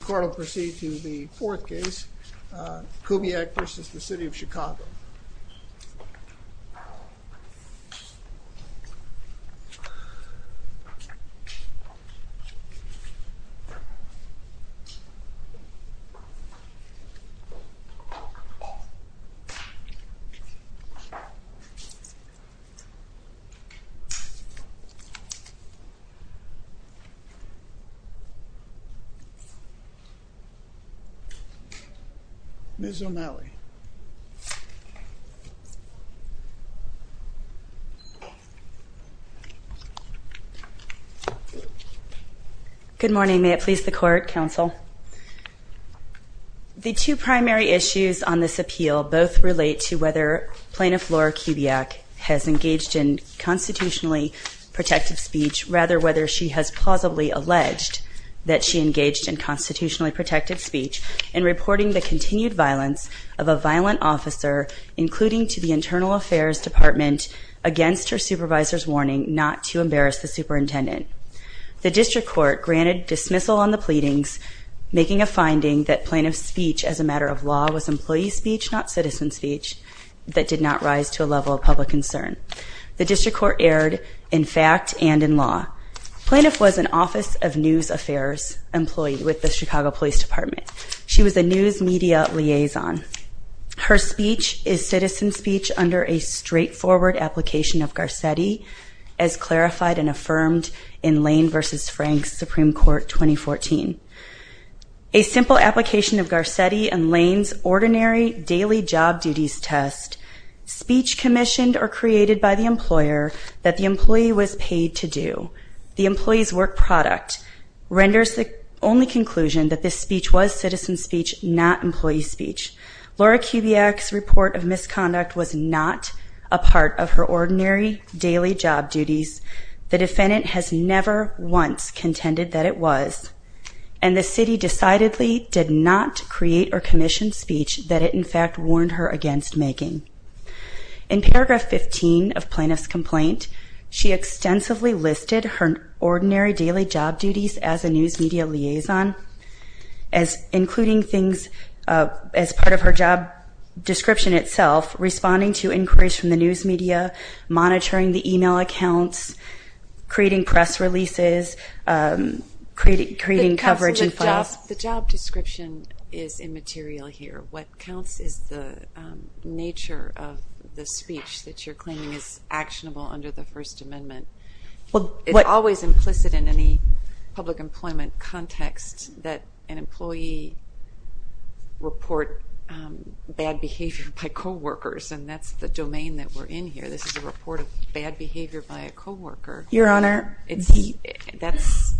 The court will proceed to the fourth case, Kubiak v. City of Chicago Ms. O'Malley Good morning, may it please the court, counsel. The two primary issues on this appeal both relate to whether Plaintiff Laura Kubiak has engaged in constitutionally protective speech, rather whether she has plausibly alleged that she engaged in constitutionally protective speech in reporting the continued violence of a violent officer, including to the Internal Affairs Department, against her supervisor's warning not to embarrass the superintendent. The District Court granted dismissal on the pleadings, making a finding that Plaintiff's speech as a matter of law was employee speech, not citizen speech, that did not rise to a level of public concern. The District Court erred in fact and in law. Plaintiff was an Office of News Affairs employee with the Chicago Police Department. She was a news media liaison. Her speech is citizen speech under a straightforward application of Garcetti, as clarified and affirmed in Lane v. Frank's Supreme Court 2014. A simple application of Garcetti and Lane's ordinary daily job duties test, speech commissioned or created by the employer that the employee was paid to do. The employee's work product renders the only conclusion that this speech was citizen speech, not employee speech. Laura Kubiak's report of misconduct was not a part of her ordinary daily job duties. The defendant has never once contended that it was, and the city decidedly did not create or commission speech that it in fact warned her against making. In paragraph 15 of Plaintiff's complaint, she extensively listed her ordinary daily job duties as a news media liaison, including things as part of her job description itself, responding to inquiries from the news media, monitoring the email accounts, creating press releases, creating coverage and files. The job description is immaterial here. What counts is the nature of the speech that you're claiming is actionable under the First Amendment. It's always implicit in any public employment context that an employee report bad behavior by co-workers, and that's the domain that we're in here. This is a report of bad behavior by a co-worker. Your Honor, the – That's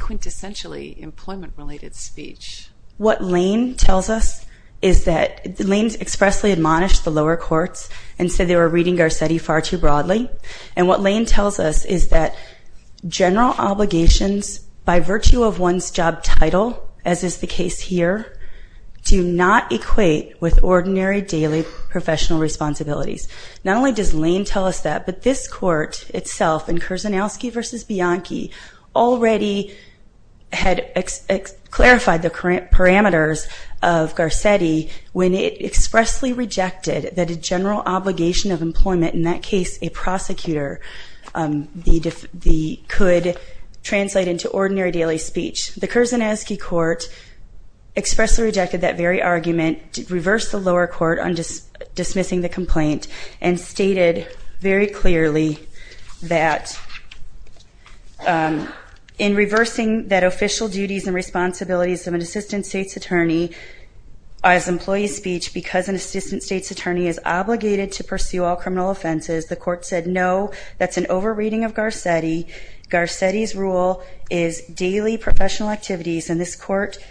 quintessentially employment-related speech. What Lane tells us is that – Lane expressly admonished the lower courts and said they were reading Garcetti far too broadly. And what Lane tells us is that general obligations by virtue of one's job title, as is the case here, do not equate with ordinary daily professional responsibilities. Not only does Lane tell us that, but this Court itself in Kurzanowski v. Bianchi already had clarified the parameters of Garcetti when it expressly rejected that a general obligation of employment, in that case a prosecutor, could translate into ordinary daily speech. The Kurzanowski Court expressly rejected that very argument, reversed the lower court on reversing that official duties and responsibilities of an assistant state's attorney as employee speech because an assistant state's attorney is obligated to pursue all criminal offenses. The Court said no, that's an over-reading of Garcetti. Garcetti's rule is daily professional activities, and this Court –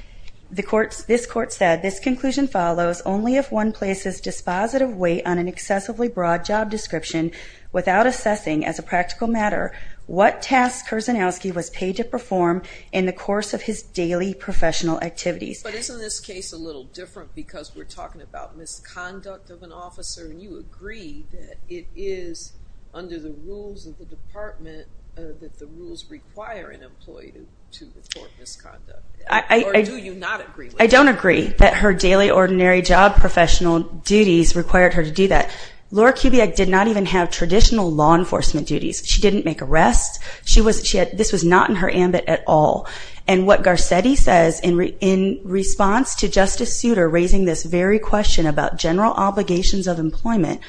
the Court – this Court said this conclusion follows, only if one places dispositive weight on an excessively broad job description without assessing, as a practical matter, what task Kurzanowski was paid to perform in the course of his daily professional activities. But isn't this case a little different because we're talking about misconduct of an officer, and you agree that it is under the rules of the Department that the rules require an employee to report misconduct. Or do you not agree with that? I don't agree that her daily ordinary job professional duties required her to do that. Laura Kubiak did not even have traditional law enforcement duties. She didn't make arrests. She was – she had – this was not in her ambit at all. And what Garcetti says in response to Justice Souter raising this very question about general obligations of employment,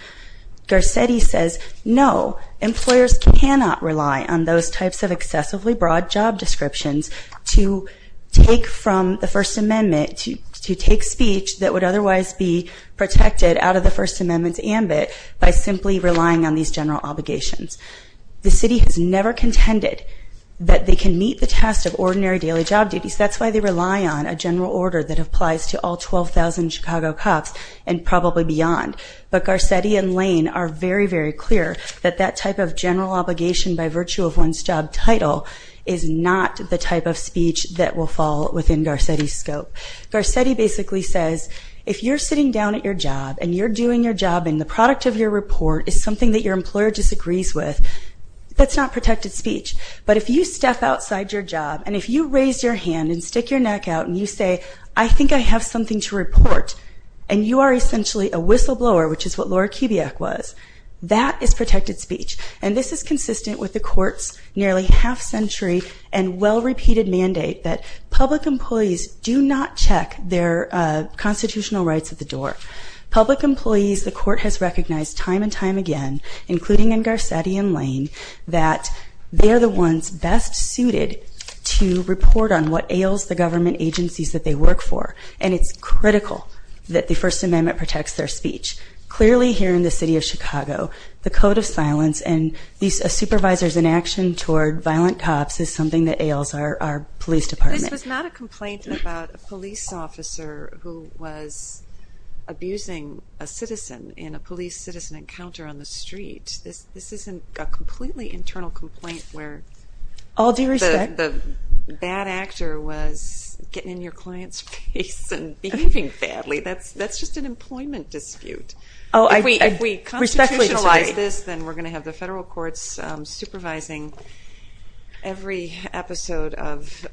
Garcetti says, no, employers cannot rely on those types of excessively broad job descriptions to take from the First Amendment, to take speech that would otherwise be protected out of the First Amendment's ambit by simply relying on these general obligations. The city has never contended that they can meet the test of ordinary daily job duties. That's why they rely on a general order that applies to all 12,000 Chicago cops and probably beyond. But Garcetti and Lane are very, very clear that that type of general obligation by virtue of one's job title is not the type of speech that will fall within Garcetti's scope. Garcetti basically says, if you're sitting down at your job and you're doing your job and the product of your report is something that your employer disagrees with, that's not protected speech. But if you step outside your job and if you raise your hand and stick your neck out and you say, I think I have something to report, and you are essentially a whistleblower, which is what Laura Kubiak was, that is protected speech. And this is consistent with the court's nearly half-century and well-repeated mandate that public employees do not check their constitutional rights at the door. Public employees, the court has recognized time and time again, including in Garcetti and Lane, that they are the ones best suited to report on what ails the government agencies that they work for. And it's critical that the First Amendment protects their speech. Clearly, here in the city of Chicago, the code of silence and a supervisor's inaction toward violent cops is something that ails our police department. This was not a complaint about a police officer who was abusing a citizen in a police citizen encounter on the street. This isn't a completely internal complaint where the bad actor was getting in your client's face and behaving badly. That's just an employment dispute. If we constitutionalize this, then we're going to have the federal courts supervising every episode of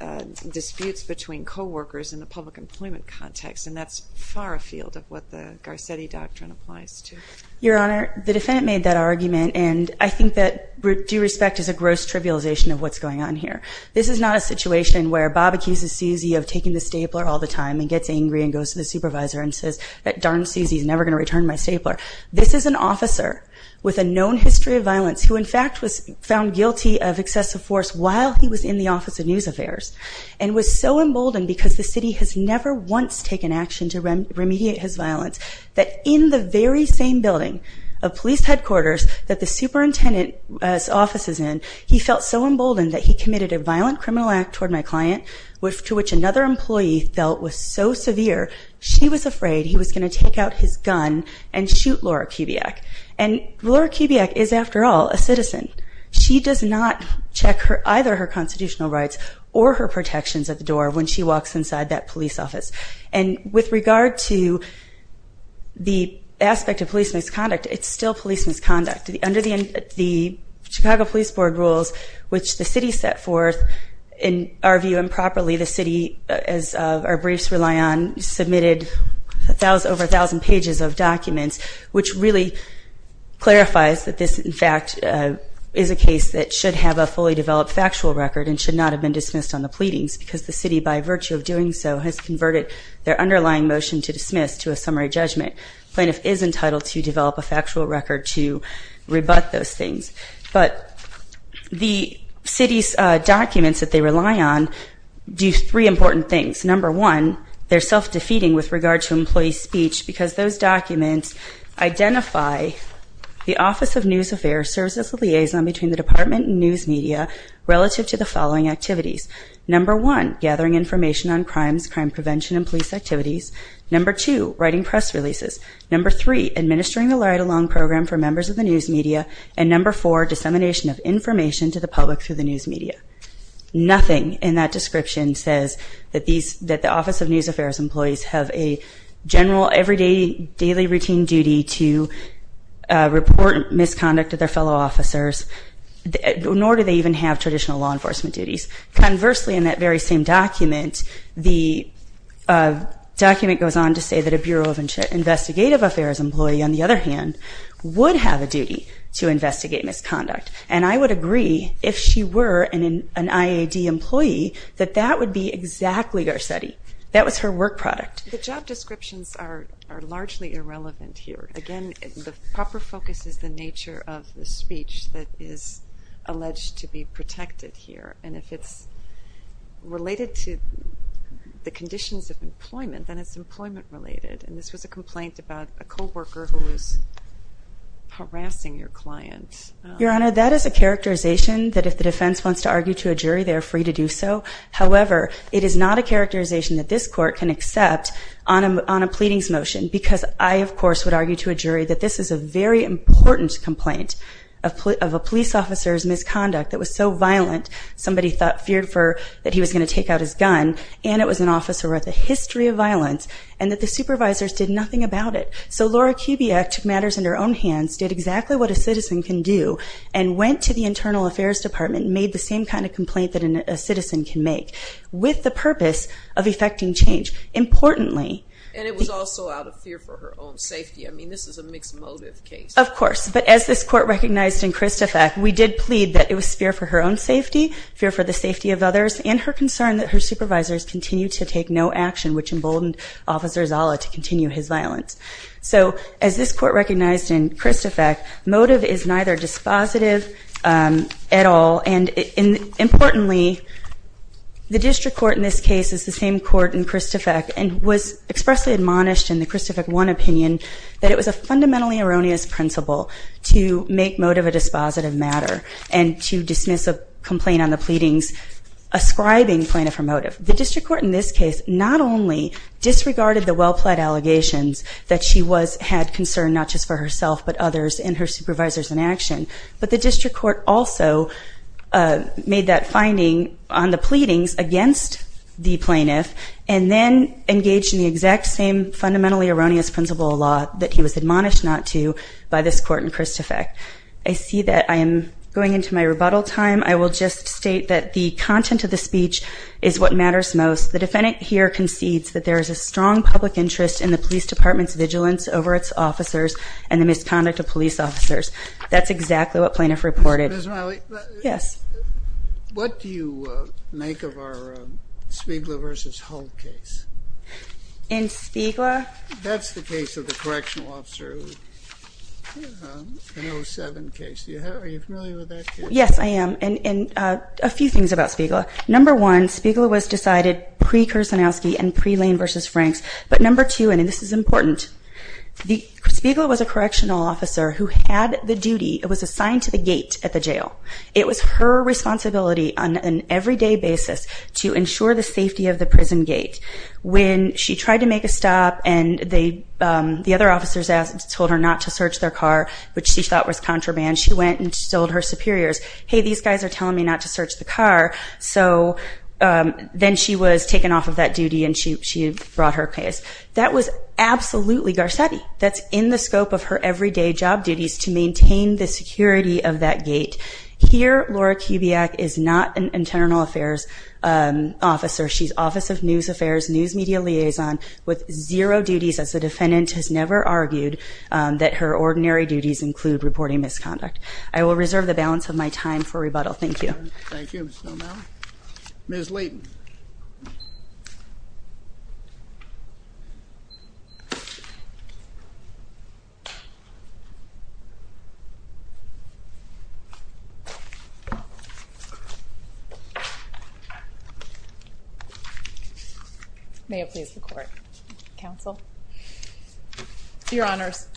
disputes between co-workers in the public employment context. And that's far afield of what the Garcetti Doctrine applies to. Your Honor, the defendant made that argument, and I think that due respect is a gross trivialization of what's going on here. This is not a situation where Bob accuses Susie of taking the stapler all the time and gets angry and goes to the supervisor and says, darn Susie's never going to return my stapler. This is an officer with a known history of violence who in fact was found guilty of excessive force while he was in the Office of News Affairs and was so emboldened because the city has never once taken action to remediate his violence that in the very same building of police headquarters that the superintendent's office is in, he felt so emboldened that he committed a violent criminal act toward my client to which another employee felt was so severe she was afraid he was going to take out his gun and shoot Laura Kubiak. And Laura Kubiak is after all a citizen. She does not check either her constitutional rights or her protections at the door when she walks inside that police office. And with regard to the aspect of police misconduct, it's still police misconduct. Under the Chicago Police Board rules, which the city set forth, in our view improperly the city, as our briefs rely on, submitted over a thousand pages of documents which really clarifies that this in fact is a case that should have a fully developed factual record and should not have been dismissed on the pleadings because the city by virtue of doing so has converted their underlying motion to dismiss to a summary judgment. The plaintiff is entitled to develop a factual record to rebut those things. But the city's documents that they rely on do three important things. Number one, they're self-defeating with regard to employee speech because those documents identify the Office of News Affairs serves as a liaison between the department and news media relative to the following activities. Number one, gathering information on crimes, crime prevention and police activities. Number two, writing press releases. Number three, administering the ride-along program for members of the news media. And number four, dissemination of information to the public through the news media. Nothing in that description says that the Office of News Affairs employees have a general, everyday, daily routine duty to report misconduct to their fellow officers, nor do they even have traditional law enforcement duties. Conversely, in that very same document, the document goes on to say that a Bureau of Investigative Affairs employee, on the other hand, would have a duty to investigate misconduct. And I would agree, if she were an IAD employee, that that would be exactly Garcetti. That was her work product. The job descriptions are largely irrelevant here. Again, the proper focus is the nature of the speech that is alleged to be protected here. And if it's related to the conditions of employment, then it's employment related. And this was a complaint about a co-worker who was harassing your client. Your Honor, that is a characterization that if the defense wants to argue to a jury, they are free to do so. However, it is not a characterization that this Court can accept on a pleadings motion, because I, of course, would argue to a jury that this is a very important complaint of a police officer's misconduct that was so violent, somebody feared that he was going to take out his gun, and it was an officer with a history of violence, and that the supervisors did nothing about it. So Laura Kubiak took matters into her own hands, did exactly what a citizen can do, and went to the Internal Affairs Department, and made the same kind of complaint that a citizen can make with the purpose of effecting change. Importantly... And it was also out of fear for her own safety. I mean, this is a mixed motive case. Of course. But as this Court recognized in Cristofac, we did plead that it was fear for her own safety, fear for the safety of others, and her concern that her supervisors continue to take no action, which emboldened Officer Zala to continue his violence. So as this Court recognized in Cristofac, motive is neither dispositive at all, and importantly, the District Court in this case is the same Court in Cristofac, and was expressly admonished in the Cristofac 1 opinion that it was a fundamentally erroneous principle to make motive a dispositive matter, and to dismiss a complaint on the pleadings ascribing plaintiff for motive. The District Court in this case not only disregarded the well-plaid allegations that she had concern not just for herself but others and her supervisors in action, but the District Court also made that finding on the pleadings against the plaintiff, and then engaged in the exact same fundamentally erroneous principle of law that he was admonished not to by this Court in Cristofac. I see that I am going into my rebuttal time. I will just state that the content of the speech is what matters most. The defendant here concedes that there is a strong public interest in the Police Department's vigilance over its officers and the misconduct of police officers. That's exactly what plaintiff reported. Ms. Miley? Yes. What do you make of our Spiegler v. Hull case? In Spiegler? That's the case of the correctional officer, an 07 case. Are you familiar with that case? Yes, I am. And a few things about Spiegler. Number one, Spiegler was decided pre-Kursanowski and pre-Lane v. Franks. But number two, and this is important, Spiegler was a correctional officer who had the duty, was assigned to the gate at the jail. It was her responsibility on an everyday basis to ensure the safety of the prison gate. When she tried to make a stop and the other officers told her not to search their car, which she thought was contraband, she went and told her superiors, hey, these guys are telling me not to search the car. So then she was taken off of that duty and she brought her case. That was absolutely Garcetti. That's in the scope of her everyday job duties to maintain the security of that gate. Here, Laura Kubiak is not an internal affairs officer. She's office of news affairs, news media liaison, with zero duties as a defendant, has never argued that her ordinary duties include reporting misconduct. I will reserve the balance of my time for rebuttal. Thank you. Thank you. Thank you, Mr. O'Malley. Ms. Leighton. May it please the court. Counsel. Your Honors,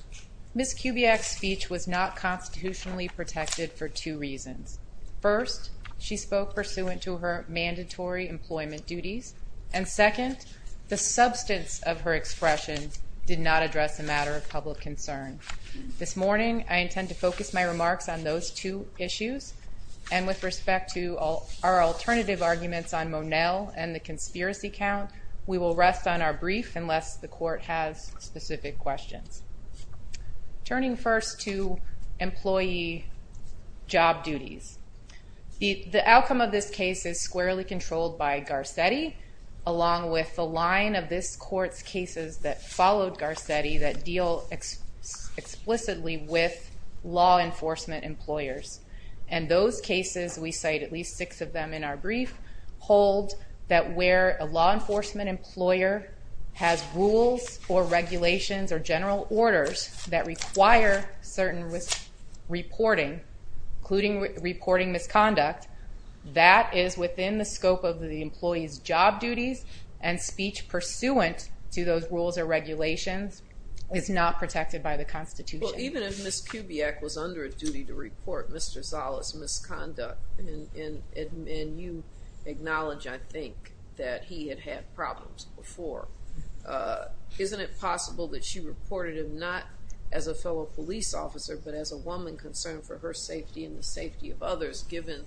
Ms. Kubiak's speech was not constitutionally protected for two reasons. First, she spoke pursuant to her mandatory employment duties. And second, the substance of her expression did not address a matter of public concern. This morning, I intend to focus my remarks on those two issues. And with respect to our alternative arguments on Monell and the conspiracy count, we will rest on our brief unless the court has specific questions. Turning first to employee job duties, the outcome of this case is squarely controlled by Garcetti along with the line of this court's cases that followed Garcetti that deal explicitly with law enforcement employers. And those cases, we cite at least six of them in our brief, hold that where a law enforcement employer has rules or regulations or general orders that require certain reporting, including reporting misconduct, that is within the scope of the employee's job duties and speech pursuant to those rules or regulations is not protected by the Constitution. Well, even if Ms. Kubiak was under a duty to report Mr. Zala's misconduct and you acknowledge, I think, that he had had problems before, isn't it possible that she reported him not as a fellow police officer but as a woman concerned for her safety and the safety of others given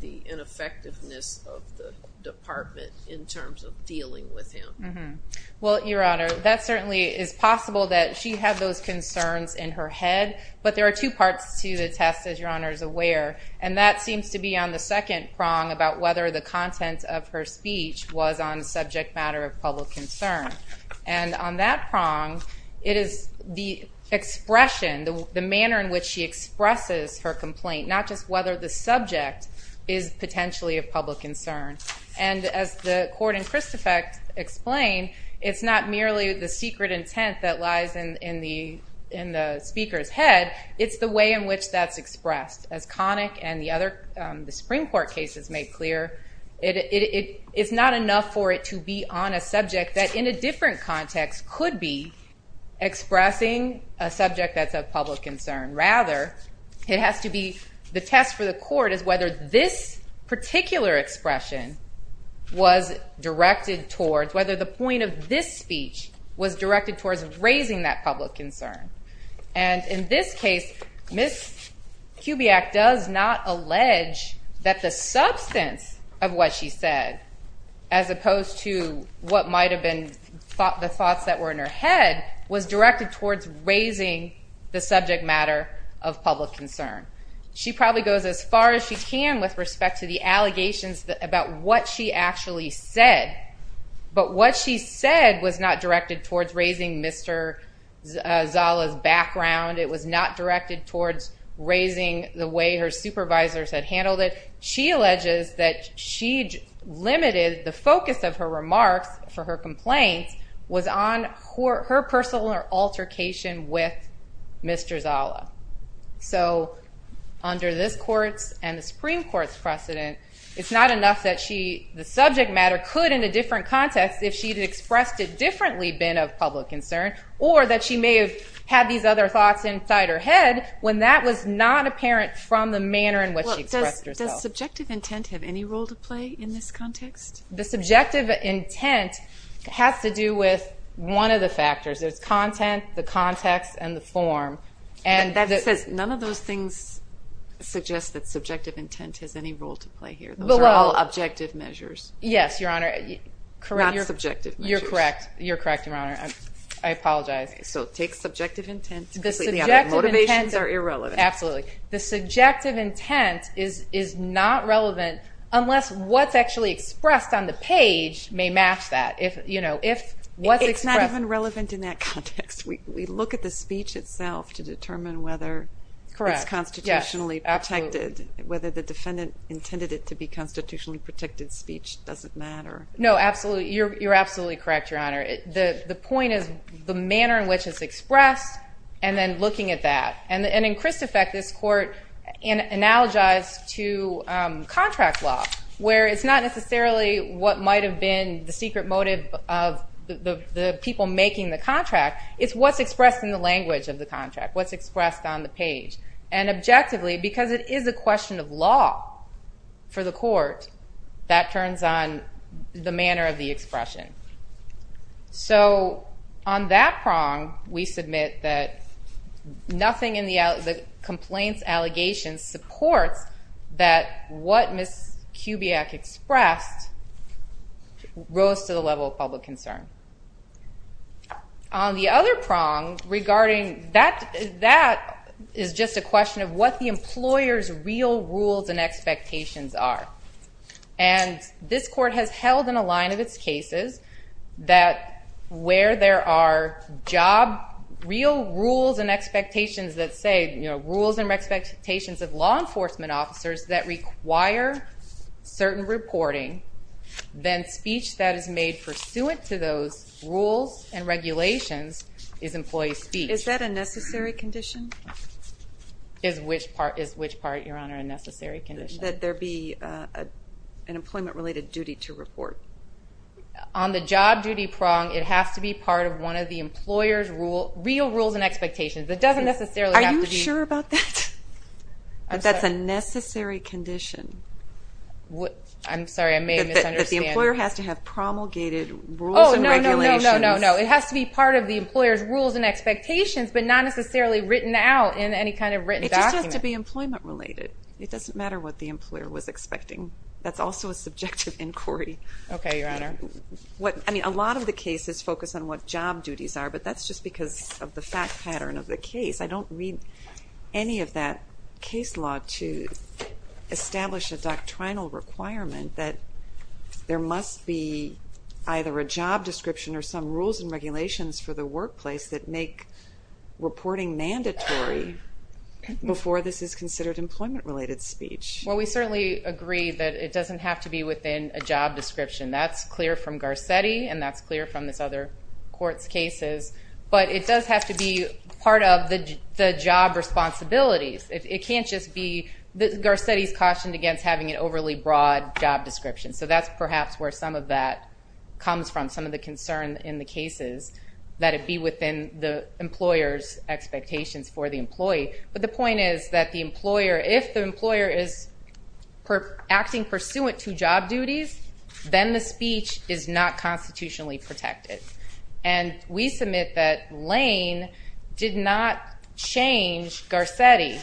the ineffectiveness of the department in terms of dealing with him? Mm-hmm. Well, Your Honor, that certainly is possible that she had those concerns in her head, but there are two parts to the test, as Your Honor is aware, and that seems to be on the second prong about whether the content of her speech was on a subject matter of public concern. And on that prong, it is the expression, the manner in which she expresses her complaint, not just whether the subject is potentially of public concern. And as the court in Christofect explained, it's not merely the secret intent that lies in the speaker's head, it's the way in which that's expressed. As Connick and the other Supreme Court cases made clear, it's not enough for it to be on a subject that in a different context could be expressing a subject that's of public concern. Rather, it has to be, the test for the court is whether this particular expression was directed towards, whether the point of this speech was directed towards raising that public concern. And in this case, Ms. Kubiak does not allege that the substance of what she said as opposed to what might have been the thoughts that were in her head was directed towards raising the subject matter of public concern. She probably goes as far as she can with respect to the allegations about what she actually said. But what she said was not directed towards raising Mr. Zala's background. It was not directed towards raising the way her supervisors had handled it. She alleges that she limited the focus of her remarks for her complaints was on her personal altercation with Mr. Zala. So, under this court's and the Supreme Court's precedent, it's not enough that she, the subject matter could in a different context if she had expressed it differently been of public concern or that she may have had these other thoughts inside her head when that was not apparent from the manner in which she expressed herself. Does subjective intent have any role to play in this context? The subjective intent has to do with one of the factors. There's content, the context, and the form. And that says none of those things suggest that subjective intent has any role to play here. Those are all objective measures. Yes, Your Honor. Correct? Not subjective measures. You're correct. You're correct, Your Honor. I apologize. So take subjective intent because the other motivations are irrelevant. Absolutely. The subjective intent is not relevant unless what's actually expressed on the page may match that. If, you know, if what's expressed It's not even relevant in that context. We look at the speech itself to determine whether Correct. it's constitutionally protected. Absolutely. Whether the defendant intended it to be constitutionally protected speech doesn't matter. No, absolutely. You're absolutely correct, Your Honor. The point is the manner in which it's expressed and then looking at that. And in Chris' effect this court analogized to contract law where it's not necessarily what might have been the secret motive of the people making the contract. It's what's expressed in the language of the contract. What's expressed on the page. And objectively because it is a question of law for the court that turns on the manner of the expression. So on that prong we submit that nothing in the complaint's allegation supports that what Ms. Kubiak expressed rose to the level of public concern. On the other prong regarding that is just a question of what the employer's real rules and expectations are. And this court has held in a line of its cases that where there are job real rules and expectations that say rules and expectations of law enforcement officers that require certain reporting then speech that is made pursuant to those rules and regulations is employee speech. Is that a necessary condition? Is which part your honor a necessary condition? That there be an employment related duty to report. On the job duty prong it has to be part of one of the employer's real rules and expectations. It doesn't necessarily have to be. Are you sure about that? That's a necessary condition. What? I'm sorry I may have misunderstood. That the employer has to have promulgated rules and regulations. No, no, no, no. It has to be part of the employer's rules and expectations but not necessarily written out in any kind of written document. It just has to be employment related. It doesn't matter what the employer was expecting. That's also a subjective inquiry. Okay, your honor. What, I mean a lot of the cases focus on what job duties are but that's just because of the fact pattern of the case. I don't read any of that case law to establish a doctrinal requirement that there must be either a job description or some rules and regulations for the workplace that make reporting mandatory before this is considered employment related speech. Well we certainly agree that it has to be clear from Garcetti and that's clear from this other court's cases but it does have to be part of the job responsibilities. It can't just be that Garcetti's cautioned against having an overly broad job description so that's perhaps where some of that comes from. Some of the concern in the cases that it be within the employer's expectations for the employee but the point is that the employer if the employer is acting pursuant to job duties then the speech is not constitutionally protected and we submit that Lane did not change Garcetti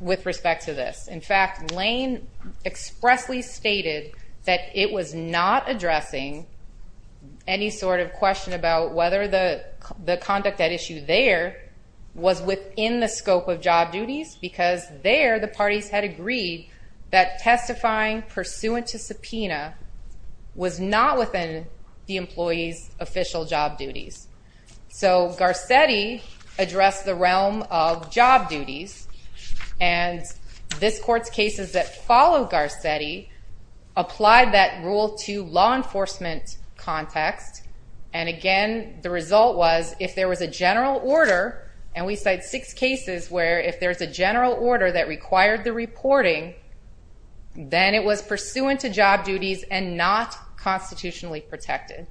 with respect to this. In fact, Lane expressly stated that it was not addressing any sort of question about whether the conduct at issue there was within the scope of job duties because there the parties had agreed that testifying pursuant to subpoena was not the employee's official job duties. So, Garcetti addressed the realm of job duties and this court's cases that followed Garcetti applied that rule to law enforcement context and again the result was if there was a general order and we cite six cases where if there's a general order that required the reporting then it was pursuant to job duties and not constitutionally protected.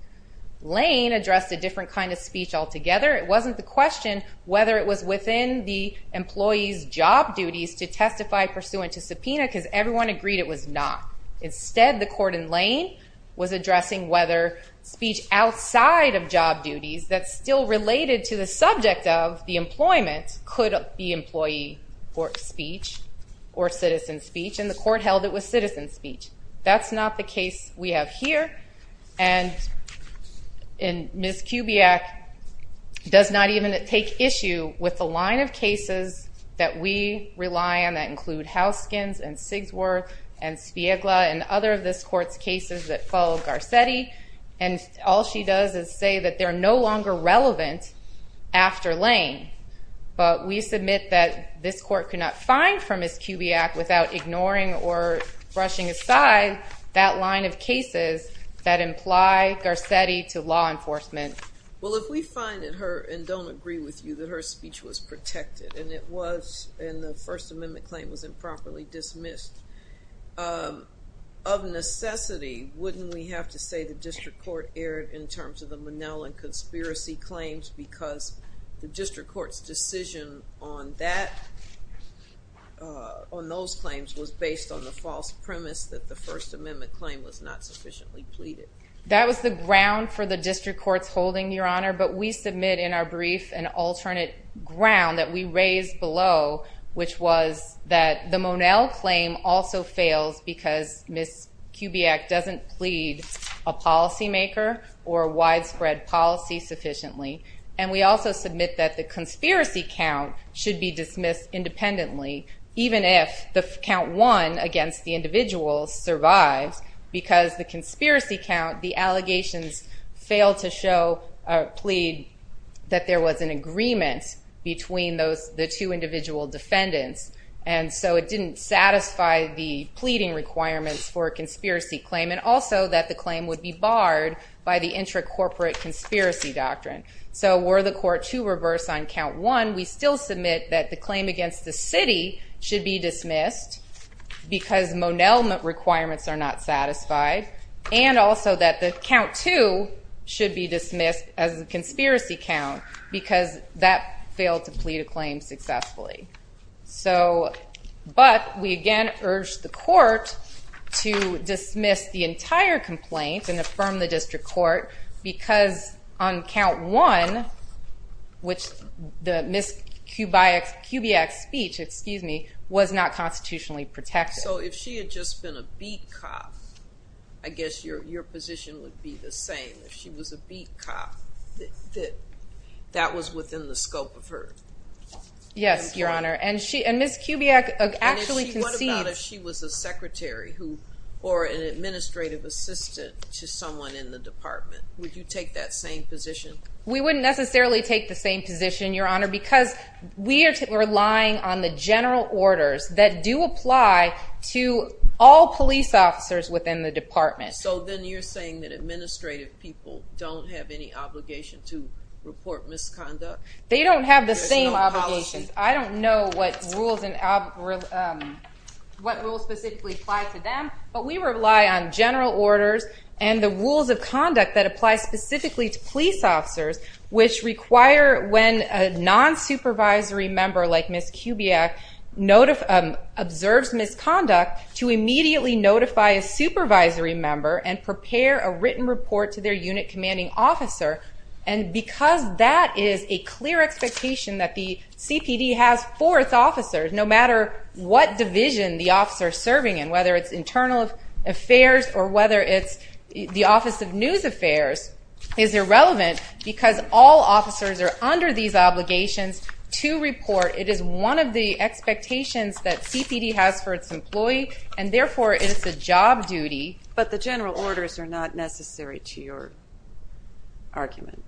Lane addressed a different kind of speech altogether. It wasn't the question whether it was within the employee's job duties to testify pursuant to subpoena because everyone agreed it was not. Instead, the court in Lane was addressing whether speech outside of employment or citizen speech and the court held it was citizen speech. That's not the case we have here and Ms. Kubiak does not even take issue with the line of cases that we rely on that include Houskins and Sigsworth and Spiegla and other of this kind. This court could not find from Ms. Kubiak without ignoring or brushing aside that line of cases that imply Garcetti to law enforcement. Well, if we find in her and don't agree with you that her speech was protected and it was and the first amendment claim was improperly dismissed of necessity wouldn't we have to say the district court erred in terms of the Manel and conspiracy claims because the district court's decision on that on those claims was based on the false premise that the first amendment claim was not sufficiently pleaded. That was the ground for the district court's holding your honor but we submit in our brief an alternate ground that we raised below which was that the Manel claim also fails because Ms. Kubiak doesn't plead a policy maker or widespread policy sufficiently and we also submit that the conspiracy count should be dismissed independently even if the count one against the individual survives because the conspiracy count the allegations failed to show a plead that there was an agreement between those the two individual defendants and so it didn't satisfy the pleading requirements for a conspiracy claim and also that the claim would be barred by the intra- corporate conspiracy doctrine so were the court to reverse on count one we still submit that the claim against the city should be dismissed because monel ment requirements are not satisfied and also that the count two should be dismissed as a conspiracy count because that failed to plead a claim successfully so but we again urged the court to dismiss the entire complaint and affirm the district court because on count one which the Ms. Kubiak speech excuse me was not constitutionally protected so if she had just been a beat cop I guess your position would be the same if she was a beat cop that that was within the scope of her yes your honor and she and Ms. Kubiak actually conceived what about if she was a secretary or an administrative assistant to someone in the department would you take that same position we wouldn't necessarily take the same position your honor because we are relying on the general orders that do apply to all police officers within the department so then you're saying that administrative people don't have any obligation to report misconduct they don't have the same obligations I don't know what rules specifically apply to them but we rely on general orders and the rules of conduct that apply specifically to police officers which require when a non supervisory member like Ms. Ritchie to report misconduct to immediately notify a supervisory member and prepare a written report to their unit commanding officer and because that is a clear expectation that the CPD has fourth officers no matter what division the officer serving in whether it's internal affairs or whether it's the office of news affairs is irrelevant because all officers are under these obligations to report it is one of the expectations that CPD has for its employee and therefore it's a job duty but the general orders are not necessary to your argument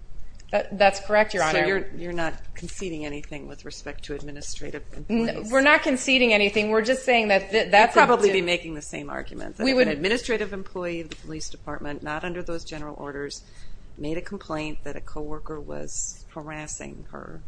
that's correct your honor so you're not conceding anything with respect to administrative employees we're not conceding anything we're just saying that that's probably be making the same argument administrative employee of the police department not under those general orders made a complaint that a co-worker was harassing her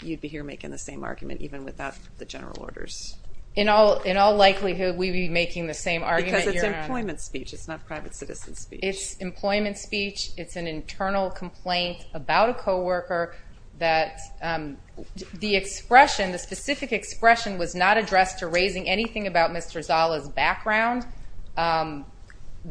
you'd be here making the same argument even without the general orders in all likelihood we'd be making the same argument because it's employment speech it's not private citizen speech it's employment speech it's an internal complaint about a co-worker that the expression the specific expression was not addressed to raising anything about Mr. Zala's background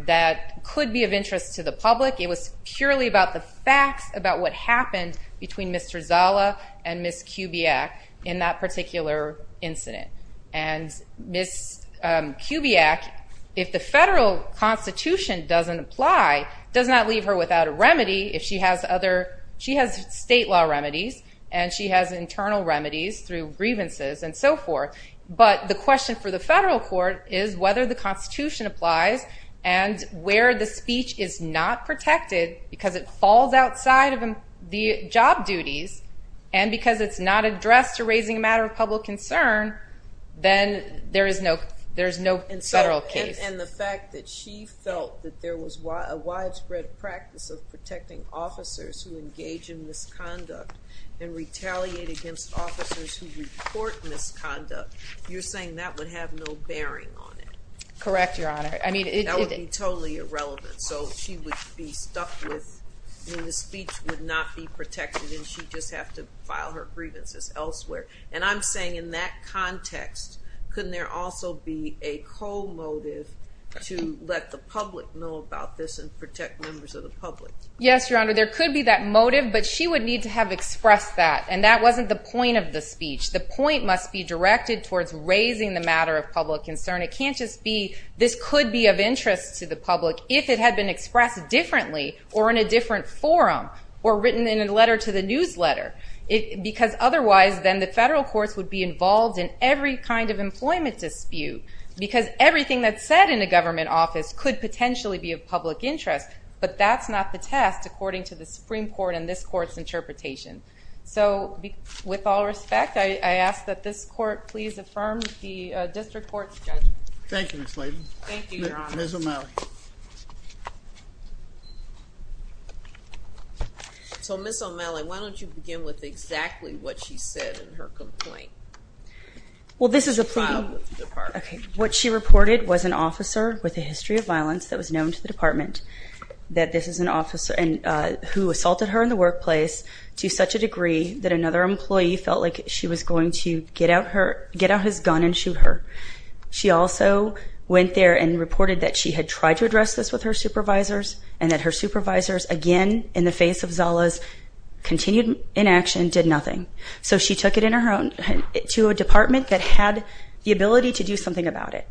that could be of interest to the public it was purely about the facts about what happened between Mr. Zala and Ms. Kubiak in that particular incident and Ms. Kubiak if the federal constitution doesn't apply does not leave her without a remedy if she has state law remedies and she has internal remedies through grievances and so forth but the question for the federal court is whether the constitution applies and where the speech is not protected because it falls outside the job duties and because it's not addressed to raising a matter of public concern then there is no federal case and the fact that she felt that there was a motive to raise the matter of public concern can't just be this could be of interest to the public if it had been expressed differently from the case or in a different forum or written in a letter to the newsletter because otherwise then the federal courts would be involved in every kind of employment dispute because everything that's said in a government complaint filed with the department. So Ms. O'Malley why don't you begin with exactly what she said in her complaint. Well this is a plea filed with the department. What she reported was an officer with a history of criminal offenses with her supervisors and that her supervisors again in the face of Zala's continued inaction did nothing. So she took it to a department that had the ability to do something about it.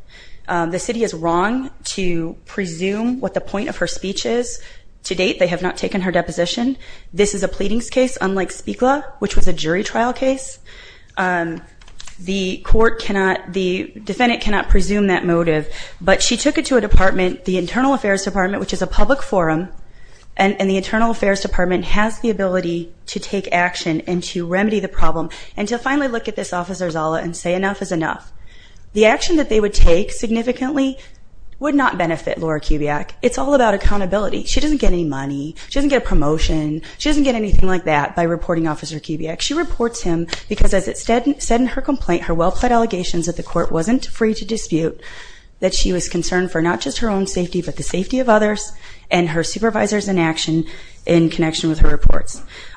The city is wrong to presume what the point of her speech is. To date they have not taken her deposition. This is a pleading case unlike speak law which was a jury that would not benefit Laura Kubiak. It's all about accountability. She doesn't get any money. She doesn't get a promotion. She doesn't get anything like that. She reports him because as it said in her complaint the court wasn't free to dispute that she was concerned about the safety of others.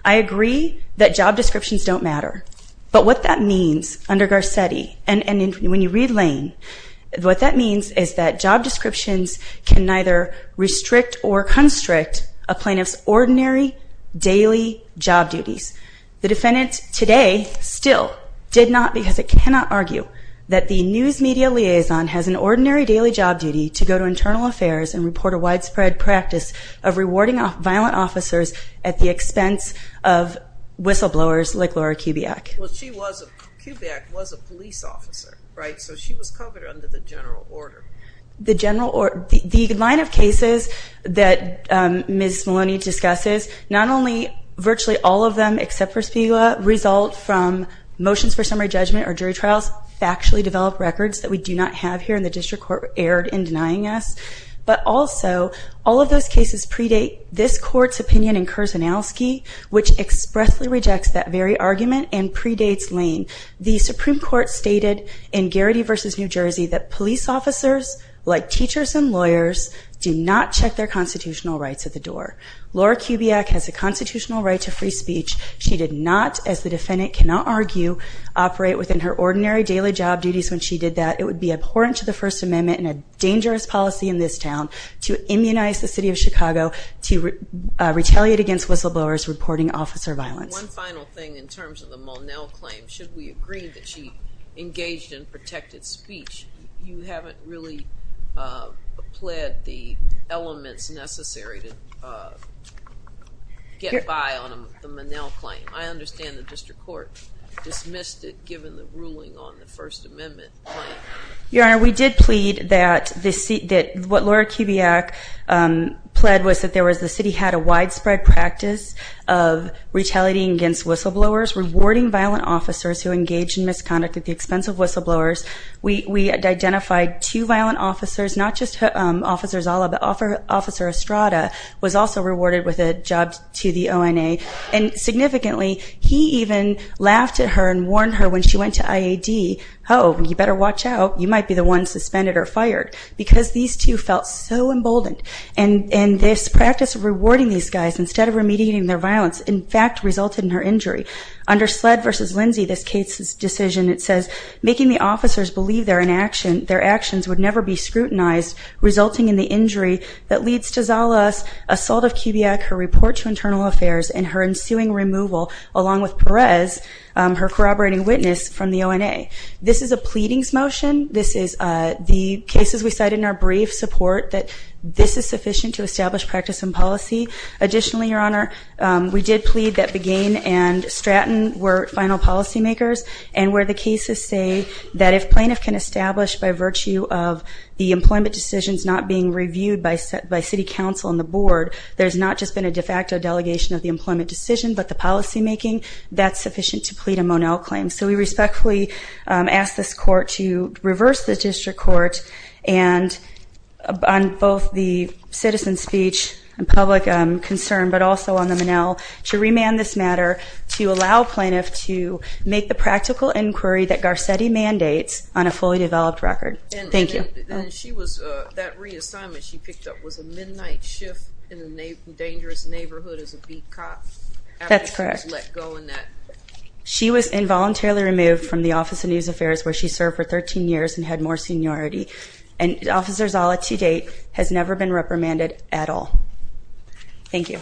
I agree that job descriptions don't matter. What that means is that job descriptions don't matter. It cannot argue that the news media liaison has an ordinary job duty to report a widespread practice at the expense of whistle blowers like Laura Kubiak. The Supreme Court stated in Garrity v. New Jersey that police officers like teachers and lawyers do not check their constitutional rights at the door. Laura has a constitutional right to free speech. She did not as the defendant cannot argue operate within her daily job duties. It would be abhorrent to the First Amendment and a dangerous policy to retaliate against whistle blowers reporting officer violence. One final thing terms of the Monell claim. Should we agree that she engaged in protected speech? You haven't really pled the elements necessary to get by on the Monell claim. I understand the District Court dismissed it given the ruling on the First Amendment. We did plead that the city had a widespread practice of retaliating against whistle blowers. We identified two violent officers. Officer Estrada was also rewarded with a job at the ONA. Significantly, he even laughed at her and warned her when she went to IAD, you better watch out because these two felt so emboldened. This practice of rewarding these guys resulted in her injury. Making the officers believe their actions would never be scrutinized resulting in the injury that leads to her ensuing removal along with Perez from the ONA. This is a pleading motion. This is sufficient to establish a Monell claim. We respectfully ask this and on both the citizen speech and the plaintiff speech and the plaintiff speech and the plaintiff speech on the Monell obligation to remand this matter so that they can make an inquiry Garcetti mandates on a fully developed record. After she was read assigned the midnight shift in the dangerous neighborhood as a beat cop. She was involuntarily removed from the office of news affairs where she served for 13 years and had more seniority and officers all up to date has never been reprimanded at all. Thank you.